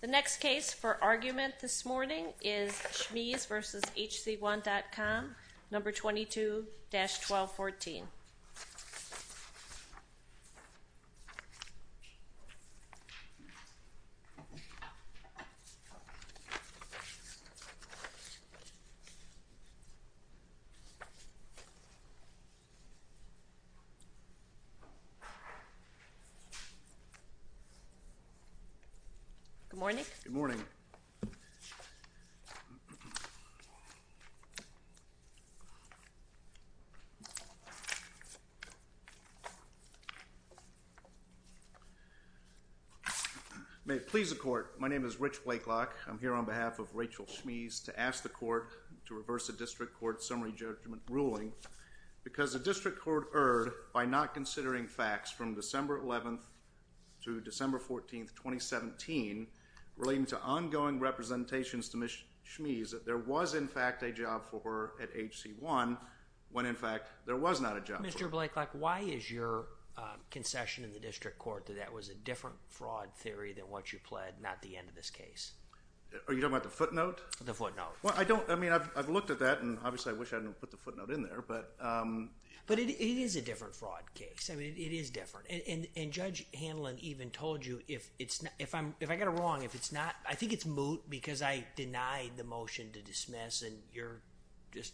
The next case for argument this morning is Schmees v. HC1.com, No. 22-1214. Good morning. May it please the Court. My name is Rich Blakelock. I'm here on behalf of Rachel Schmees to ask the Court to reverse the District Court's summary judgment ruling because the District Court erred by not considering facts from December 11th to December 14th, 2017 relating to ongoing representations to Ms. Schmees that there was, in fact, a job for her at HC1 when, in fact, there was not a job for her. Mr. Blakelock, why is your concession in the District Court that that was a different fraud theory than what you pled, not the end of this case? Are you talking about the footnote? The footnote. Well, I don't, I mean, I've looked at that and, obviously, I wish I had put the footnote in there, but... But it is a different fraud case. I mean, it is different. And Judge Hanlon even told you if it's not, if I got it wrong, if it's not, I think it's moot because I denied the motion to dismiss and you're just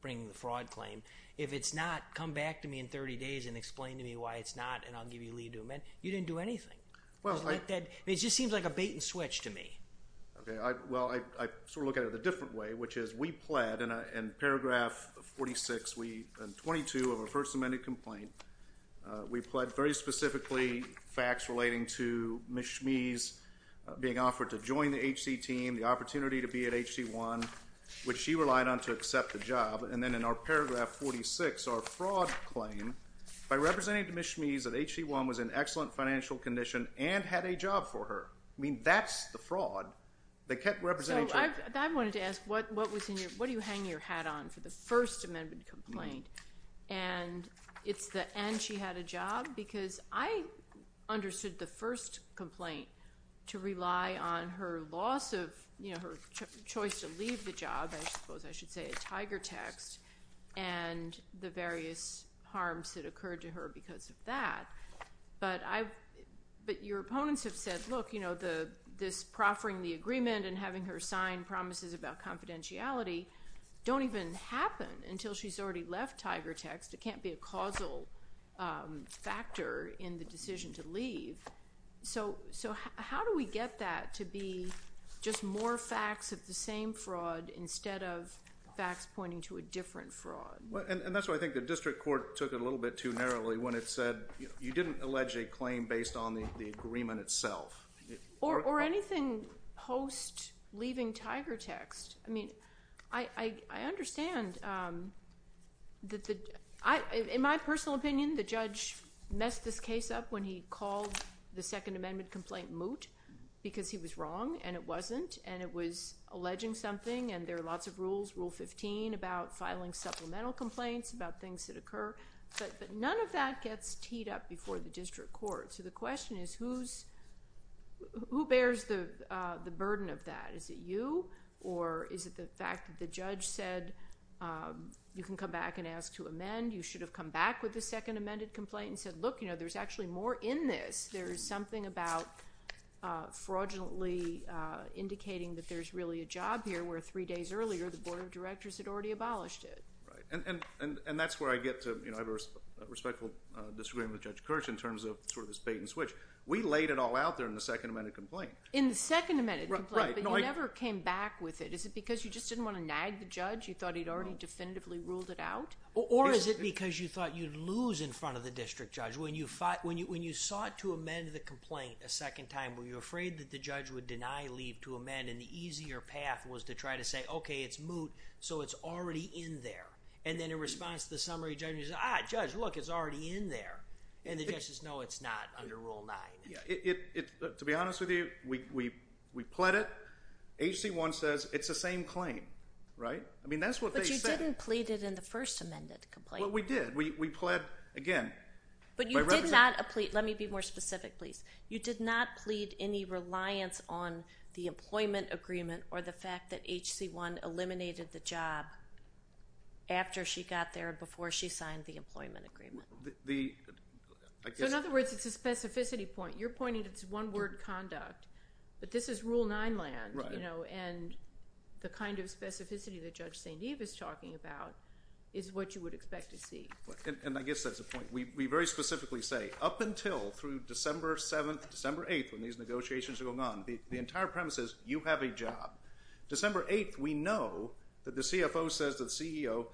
bringing the fraud claim. If it's not, come back to me in 30 days and explain to me why it's not and I'll give you a lead to amend. You didn't do anything. Well, I... It just seems like a bait and switch to me. Okay. I, well, I, I sort of look at it a different way, which is we pled in a, in paragraph 46, we, in 22 of our first amended complaint, we pled very specifically facts relating to Ms. Schmees being offered to join the HC team, the opportunity to be at HC1, which she relied on to accept the job. And then in our paragraph 46, our fraud claim, by representing to Ms. Schmees that HC1 was in excellent financial condition and had a job for her. I mean, that's the fraud. They kept representing... So, I, I wanted to ask what, what was in your, what do you hang your hat on for the first amendment complaint? And it's the, and she had a job, because I understood the first complaint to rely on her loss of, you know, her choice to leave the job, I suppose I should say a tiger text, and the various harms that occurred to her because of that, but I, but your opponents have said, look, you know, the, this proffering the agreement and having her sign promises about confidentiality don't even happen until she's already left, tiger text. It can't be a causal factor in the decision to leave. So, so how do we get that to be just more facts of the same fraud instead of facts pointing to a different fraud? Well, and, and that's why I think the district court took it a little bit too narrowly when it said, you know, you didn't allege a claim based on the, the agreement itself. Or, or anything post-leaving tiger text, I mean, I, I, I understand that the, I, in my personal opinion, the judge messed this case up when he called the second amendment complaint moot because he was wrong, and it wasn't, and it was alleging something, and there are lots of rules, Rule 15 about filing supplemental complaints about things that occur, but, but none of that gets teed up before the district court. So the question is, who's, who bears the, the burden of that? Is it you, or is it the fact that the judge said, you can come back and ask to amend, you should have come back with the second amended complaint and said, look, you know, there's actually more in this. There's something about fraudulently indicating that there's really a job here where three days earlier the board of directors had already abolished it. Right. And, and, and, and that's where I get to, you know, have a respectful disagreement with Judge Kirsch in terms of sort of this bait and switch. We laid it all out there in the second amended complaint. In the second amended complaint. Right. Right. But you never came back with it. Is it because you just didn't want to nag the judge? You thought he'd already definitively ruled it out? Or is it because you thought you'd lose in front of the district judge when you fought, when you, when you sought to amend the complaint a second time, were you afraid that the judge would deny leave to amend, and the easier path was to try to say, okay, it's moot, so it's already in there. And then in response to the summary judge, he says, ah, judge, look, it's already in there. And the judge says, no, it's not under rule nine. Yeah. It, it, to be honest with you, we, we, we pled it. H.C. 1 says it's the same claim, right? I mean, that's what they said. But you didn't plead it in the first amended complaint. Well, we did. We, we pled again. But you did not plead, let me be more specific, please. You did not plead any reliance on the employment agreement or the fact that H.C. 1 eliminated the job after she got there, before she signed the employment agreement. The, I guess. So, in other words, it's a specificity point. You're pointing to this one word, conduct, but this is rule nine land, you know, and the kind of specificity that Judge St. Eve is talking about is what you would expect to see. And, and I guess that's the point. We, we very specifically say, up until through December 7th, December 8th, when these negotiations are going on, the, the entire premise is, you have a job. December 8th, we know that the CFO says to the CEO,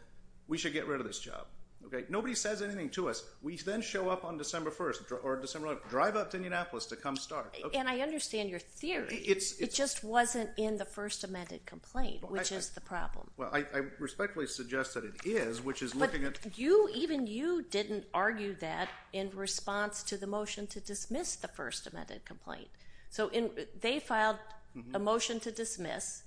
we should get rid of this job. Okay? Nobody says anything to us. We then show up on December 1st or December, drive up to Indianapolis to come start. Okay. And I understand your theory. It's, it's. It just wasn't in the first amended complaint, which is the problem. Well, I, I respectfully suggest that it is, which is looking at. But you, even you didn't argue that in response to the motion to dismiss the first amended complaint. So in, they filed a motion to dismiss.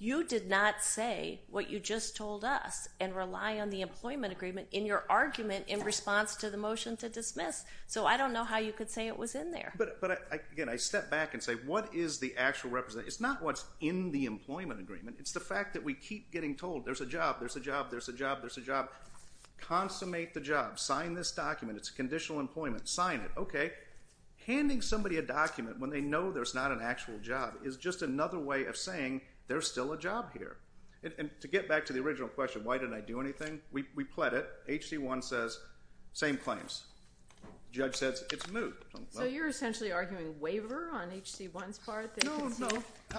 You did not say what you just told us and rely on the employment agreement in your argument in response to the motion to dismiss. So I don't know how you could say it was in there. But, but I, again, I step back and say, what is the actual representation? It's not what's in the employment agreement. It's the fact that we keep getting told there's a job, there's a job, there's a job, there's a job. Consummate the job. Sign this document. It's conditional employment. Sign it. Okay. Okay. Handing somebody a document when they know there's not an actual job is just another way of saying there's still a job here. And to get back to the original question, why didn't I do anything? We, we pled it. H.C. 1 says, same claims. Judge says it's moot. So you're essentially arguing waiver on H.C. 1's part? No, no.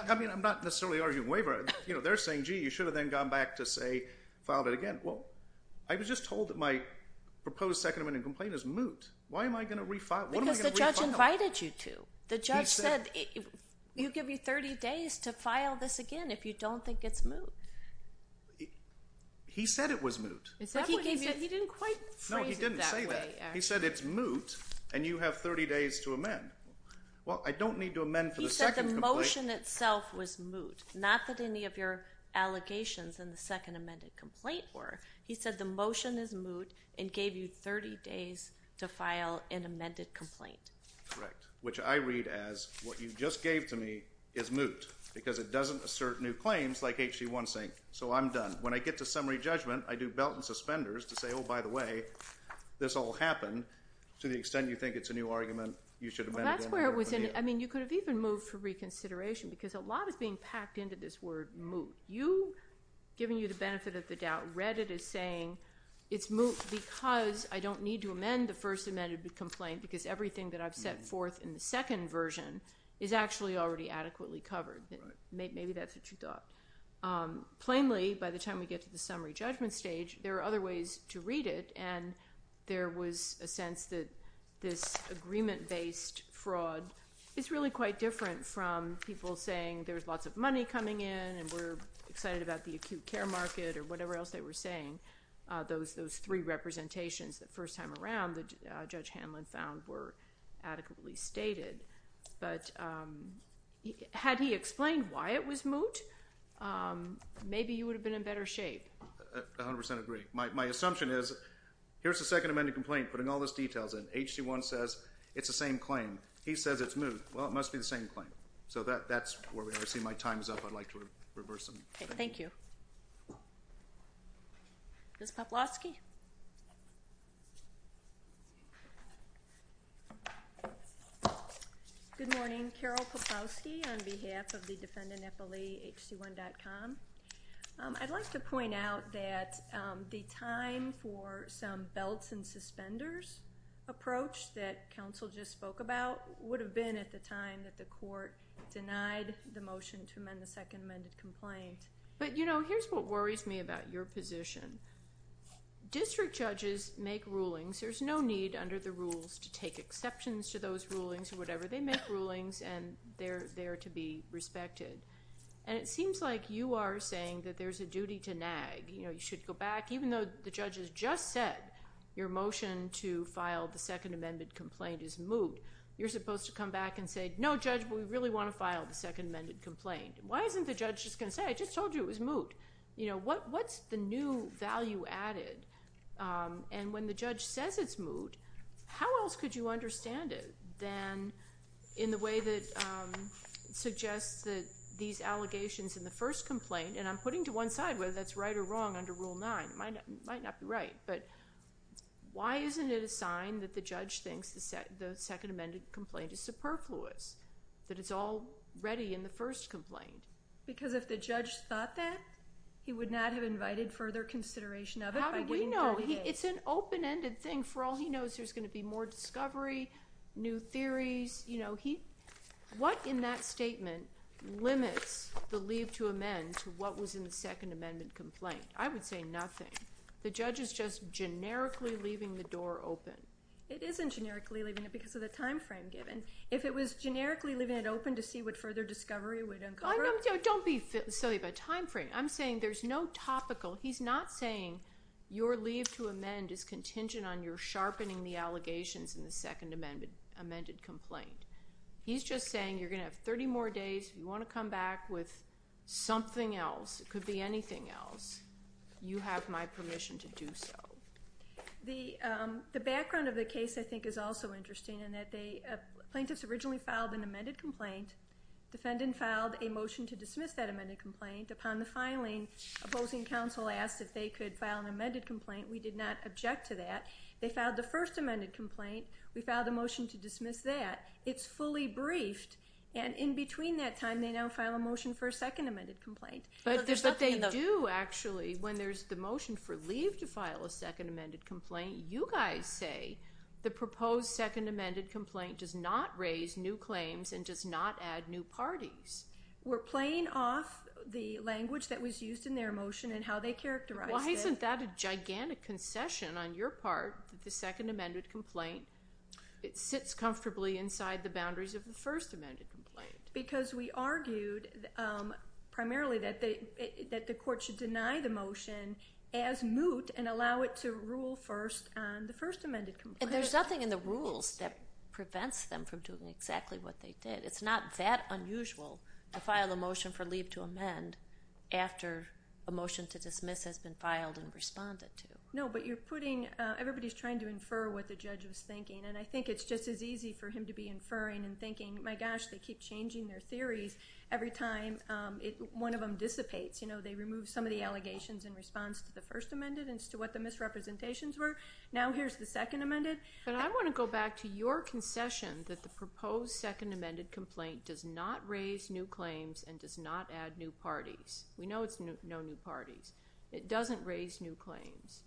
I mean, I'm not necessarily arguing waiver. You know, they're saying, gee, you should have then gone back to say, filed it again. Well, I was just told that my proposed second amended complaint is moot. Why am I going to refile? Because the judge invited you to. The judge said, you give me 30 days to file this again if you don't think it's moot. He said it was moot. He said he gave you, he didn't quite phrase it that way, actually. No, he didn't say that. He said it's moot and you have 30 days to amend. Well, I don't need to amend for the second complaint. He said the motion itself was moot. Not that any of your allegations in the second amended complaint were. He said the motion is moot and gave you 30 days to file an amended complaint. Correct. Which I read as, what you just gave to me is moot because it doesn't assert new claims like H.C. 1's saying, so I'm done. When I get to summary judgment, I do belt and suspenders to say, oh, by the way, this all happened to the extent you think it's a new argument, you should amend it again. Well, that's where it was in. I mean, you could have even moved for reconsideration because a lot is being packed into this word moot. You, giving you the benefit of the doubt, read it as saying it's moot because I don't need to amend the first amended complaint because everything that I've set forth in the second version is actually already adequately covered. Maybe that's what you thought. Plainly, by the time we get to the summary judgment stage, there are other ways to read it and there was a sense that this agreement-based fraud is really quite different from people saying there's lots of money coming in and we're excited about the acute care market or whatever else they were saying. Those three representations the first time around that Judge Hanlon found were adequately stated, but had he explained why it was moot, maybe you would have been in better shape. I 100% agree. My assumption is, here's the second amended complaint putting all those details in. H.C. 1 says it's the same claim. He says it's moot. Well, it must be the same claim. That's where we are. I see my time is up. I'd like to reverse them. Okay. Thank you. Ms. Poplowski? Good morning. Carol Poplowski on behalf of the defendant, FLEHC1.com. I'd like to point out that the time for some belts and suspenders approach that counsel just spoke about would have been at the time that the court denied the motion to amend the second amended complaint. But, you know, here's what worries me about your position. District judges make rulings. There's no need under the rules to take exceptions to those rulings or whatever. They make rulings and they're there to be respected. It seems like you are saying that there's a duty to nag. You should go back. Even though the judge has just said your motion to file the second amended complaint is moot, you're supposed to come back and say, no, judge, we really want to file the second amended complaint. Why isn't the judge just going to say, I just told you it was moot? You know, what's the new value added? And when the judge says it's moot, how else could you understand it than in the way that suggests that these allegations in the first complaint, and I'm putting to one side whether that's right or wrong under Rule 9, it might not be right, but why isn't it a sign that the judge thinks the second amended complaint is superfluous, that it's all ready in the first complaint? Because if the judge thought that, he would not have invited further consideration of it by waiting 30 days. How do you know? It's an open-ended thing. For all he knows, there's going to be more discovery, new theories, you know. What in that statement limits the leave to amend to what was in the second amendment complaint? I would say nothing. The judge is just generically leaving the door open. It isn't generically leaving it because of the time frame given. If it was generically leaving it open to see what further discovery would uncover. Don't be silly about time frame. I'm saying there's no topical, he's not saying your leave to amend is contingent on your He's just saying you're going to have 30 more days, you want to come back with something else, it could be anything else, you have my permission to do so. The background of the case I think is also interesting in that they, plaintiffs originally filed an amended complaint, defendant filed a motion to dismiss that amended complaint. Upon the filing, opposing counsel asked if they could file an amended complaint, we did not object to that. They filed the first amended complaint, we filed a motion to dismiss that. It's fully briefed and in between that time they now file a motion for a second amended complaint. But they do actually, when there's the motion for leave to file a second amended complaint, you guys say the proposed second amended complaint does not raise new claims and does not add new parties. We're playing off the language that was used in their motion and how they characterized it. Why isn't that a gigantic concession on your part, the second amended complaint, it sits comfortably inside the boundaries of the first amended complaint. Because we argued primarily that the court should deny the motion as moot and allow it to rule first on the first amended complaint. And there's nothing in the rules that prevents them from doing exactly what they did. It's not that unusual to file a motion for leave to amend after a motion to dismiss has been filed and responded to. No, but you're putting, everybody's trying to infer what the judge was thinking and I think it's easy for him to be inferring and thinking, my gosh, they keep changing their theories every time one of them dissipates. They remove some of the allegations in response to the first amended and to what the misrepresentations were. Now here's the second amended. But I want to go back to your concession that the proposed second amended complaint does not raise new claims and does not add new parties. We know it's no new parties. It doesn't raise new claims.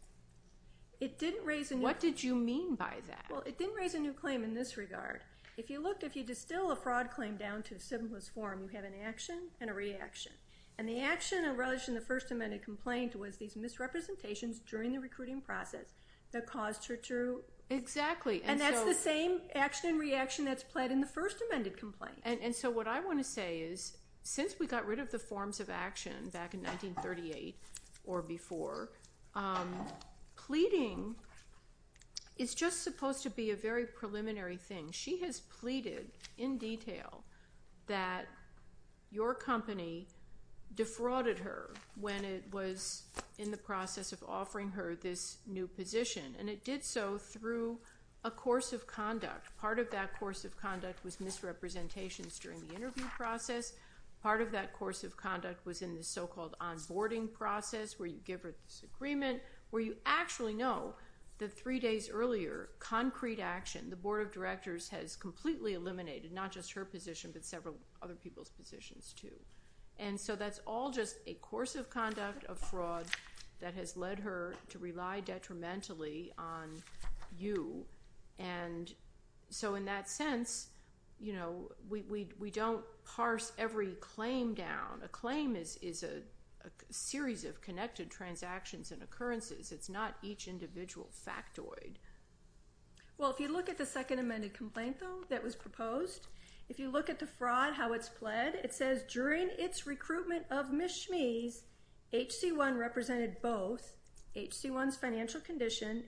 It didn't raise a new. What did you mean by that? Well, it didn't raise a new claim in this regard. If you look, if you distill a fraud claim down to a simplest form, you have an action and a reaction. And the action and relation to the first amended complaint was these misrepresentations during the recruiting process that caused her to, and that's the same action and reaction that's pled in the first amended complaint. And so what I want to say is since we got rid of the forms of action back in 1938 or before, pleading is just supposed to be a very preliminary thing. She has pleaded in detail that your company defrauded her when it was in the process of offering her this new position. And it did so through a course of conduct. Part of that course of conduct was misrepresentations during the interview process. Part of that course of conduct was in the so-called onboarding process where you give her this agreement where you actually know that three days earlier, concrete action, the board of directors has completely eliminated not just her position but several other people's positions too. And so that's all just a course of conduct of fraud that has led her to rely detrimentally on you. And so in that sense, you know, we don't parse every claim down. A claim is a series of connected transactions and occurrences. It's not each individual factoid. Well, if you look at the second amended complaint, though, that was proposed, if you look at the fraud, how it's pled, it says during its recruitment of Ms. Schmees, HC1 represented both HC1's financial condition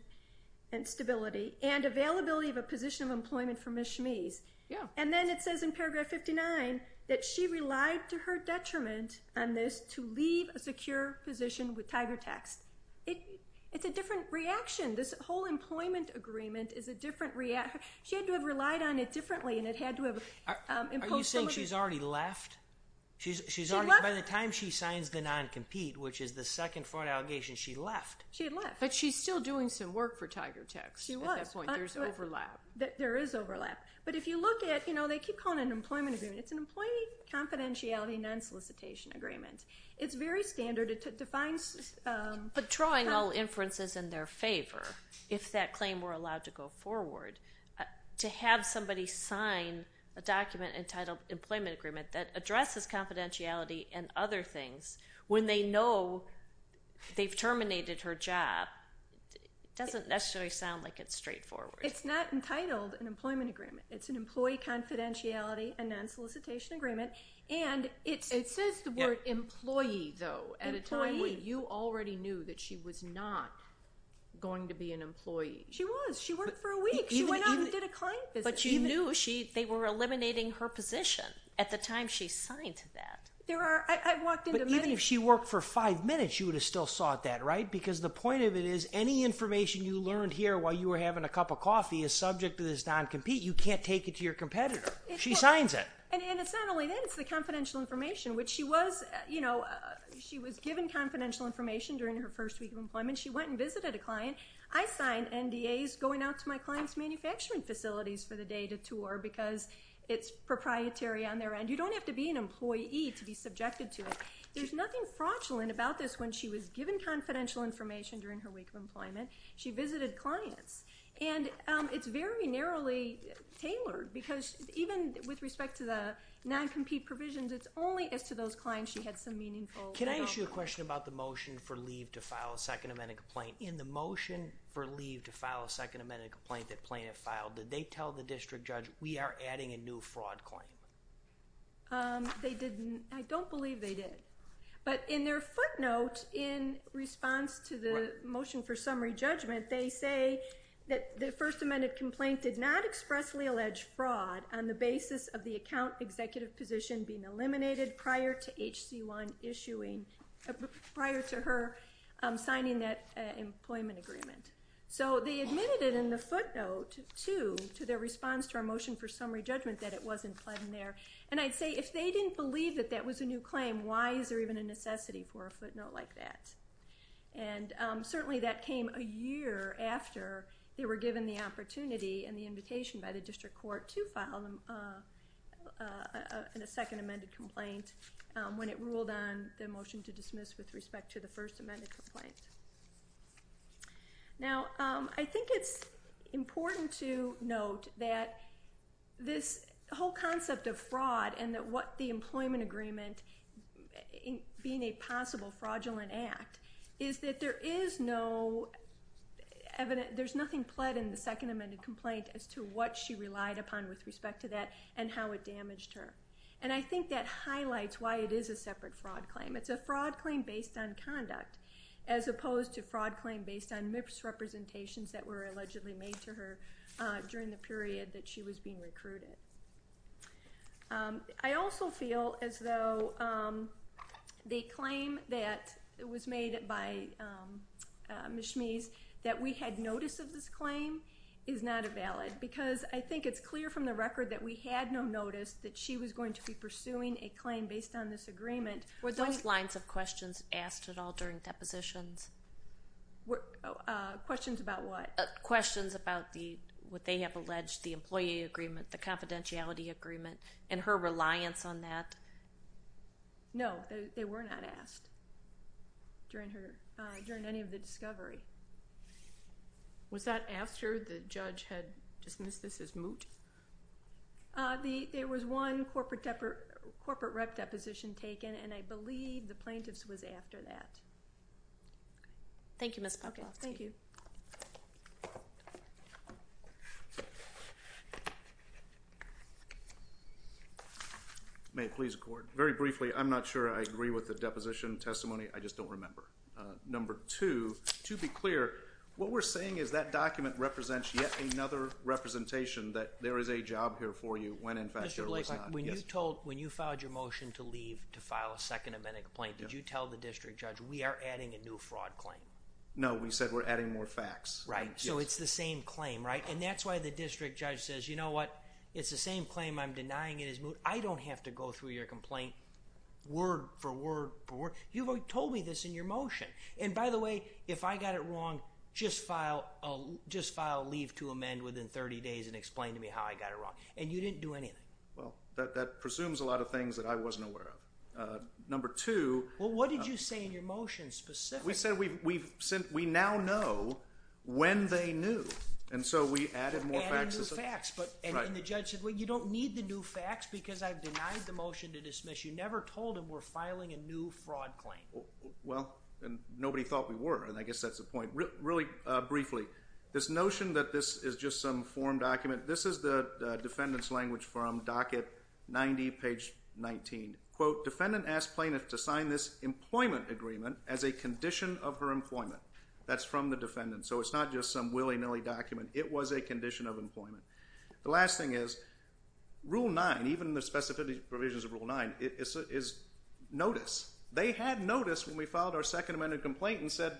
and stability and availability of a position of employment for Ms. Schmees. Yeah. And then it says in paragraph 59 that she relied to her detriment on this to leave a secure position with Tiger Tax. It's a different reaction. This whole employment agreement is a different react, she had to have relied on it differently and it had to have imposed some of these. Are you saying she's already left? She's already, by the time she signs the non-compete, which is the second fraud allegation, she left. She left. But she's still doing some work for Tiger Tax. She was. At this point, there's overlap. There is overlap. But if you look at, you know, they keep calling it an employment agreement. It's an employee confidentiality non-solicitation agreement. It's very standard. It defines. But drawing all inferences in their favor, if that claim were allowed to go forward, to have somebody sign a document entitled employment agreement that addresses confidentiality and other things when they know they've terminated her job, it doesn't necessarily sound like it's straightforward. It's not entitled an employment agreement. It's an employee confidentiality and non-solicitation agreement. And it's... It says the word employee, though, at a time when you already knew that she was not going to be an employee. She was. She was. She worked for a week. She went out and did a client visit. But you knew she... They were eliminating her position at the time she signed that. There are... I've walked into many... But even if she worked for five minutes, she would have still sought that, right? Because the point of it is, any information you learned here while you were having a cup of coffee is subject to this non-compete. You can't take it to your competitor. She signs it. And it's not only that. It's the confidential information, which she was, you know, she was given confidential information during her first week of employment. She went and visited a client. I signed NDAs going out to my client's manufacturing facilities for the day to tour, because it's proprietary on their end. You don't have to be an employee to be subjected to it. There's nothing fraudulent about this. When she was given confidential information during her week of employment, she visited clients. And it's very narrowly tailored, because even with respect to the non-compete provisions, it's only as to those clients she had some meaningful... Can I ask you a question about the motion for leave to file a second amendment complaint? In the motion for leave to file a second amendment complaint that plaintiff filed, did they tell the district judge, we are adding a new fraud claim? They didn't. I don't believe they did. But in their footnote in response to the motion for summary judgment, they say that the first amendment complaint did not expressly allege fraud on the basis of the account executive position being eliminated prior to HC1 issuing, prior to her signing that employment agreement. So they admitted it in the footnote, too, to their response to our motion for summary judgment that it wasn't pled in there. And I'd say, if they didn't believe that that was a new claim, why is there even a necessity for a footnote like that? And certainly that came a year after they were given the opportunity and the invitation by the district court to file a second amended complaint when it ruled on the motion to dismiss with respect to the first amended complaint. Now I think it's important to note that this whole concept of fraud and that what the employment agreement, being a possible fraudulent act, is that there is no evident... ...what she relied upon with respect to that and how it damaged her. And I think that highlights why it is a separate fraud claim. It's a fraud claim based on conduct as opposed to fraud claim based on misrepresentations that were allegedly made to her during the period that she was being recruited. I also feel as though the claim that was made by Ms. Schmees that we had notice of this I think it's clear from the record that we had no notice that she was going to be pursuing a claim based on this agreement. Were those lines of questions asked at all during depositions? Questions about what? Questions about what they have alleged, the employee agreement, the confidentiality agreement, and her reliance on that? No, they were not asked during any of the discovery. Was that after the judge had dismissed this as moot? There was one corporate rep deposition taken, and I believe the plaintiff's was after that. Thank you, Ms. Puckett. Thank you. May it please the court. Very briefly, I'm not sure I agree with the deposition testimony. I just don't remember. Number two, to be clear, what we're saying is that document represents yet another representation that there is a job here for you when in fact there was not. Mr. Blake, when you filed your motion to leave to file a second amendment complaint, did you tell the district judge, we are adding a new fraud claim? No, we said we're adding more facts. Right, so it's the same claim, right? And that's why the district judge says, you know what, it's the same claim, I'm denying it as moot. I don't have to go through your complaint word for word for word. You've already told me this in your motion. And by the way, if I got it wrong, just file a leave to amend within 30 days and explain to me how I got it wrong. And you didn't do anything. Well, that presumes a lot of things that I wasn't aware of. Number two. Well, what did you say in your motion specifically? We said we now know when they knew. And so we added more facts. Added more facts. Right. And the judge said, well, you don't need the new facts because I've denied the motion to dismiss. You never told him we're filing a new fraud claim. Well, and nobody thought we were, and I guess that's the point. Really briefly, this notion that this is just some form document, this is the defendant's language from docket 90, page 19, quote, defendant asked plaintiff to sign this employment agreement as a condition of her employment. That's from the defendant. So it's not just some willy-nilly document. It was a condition of employment. The last thing is, Rule 9, even in the specific provisions of Rule 9, is notice. They had notice when we filed our second amended complaint and said,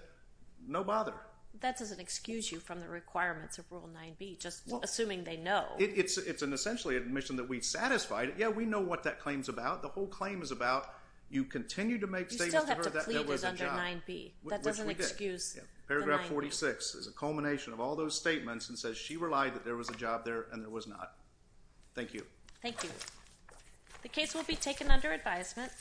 no bother. That doesn't excuse you from the requirements of Rule 9b, just assuming they know. It's an essentially admission that we satisfied. Yeah, we know what that claim's about. The whole claim is about you continue to make statements to her that there was a job. You still have to plead it under 9b. That doesn't excuse the 9b. Yeah. There was a job there, and there was not. Thank you. Thank you. The case will be taken under advisement.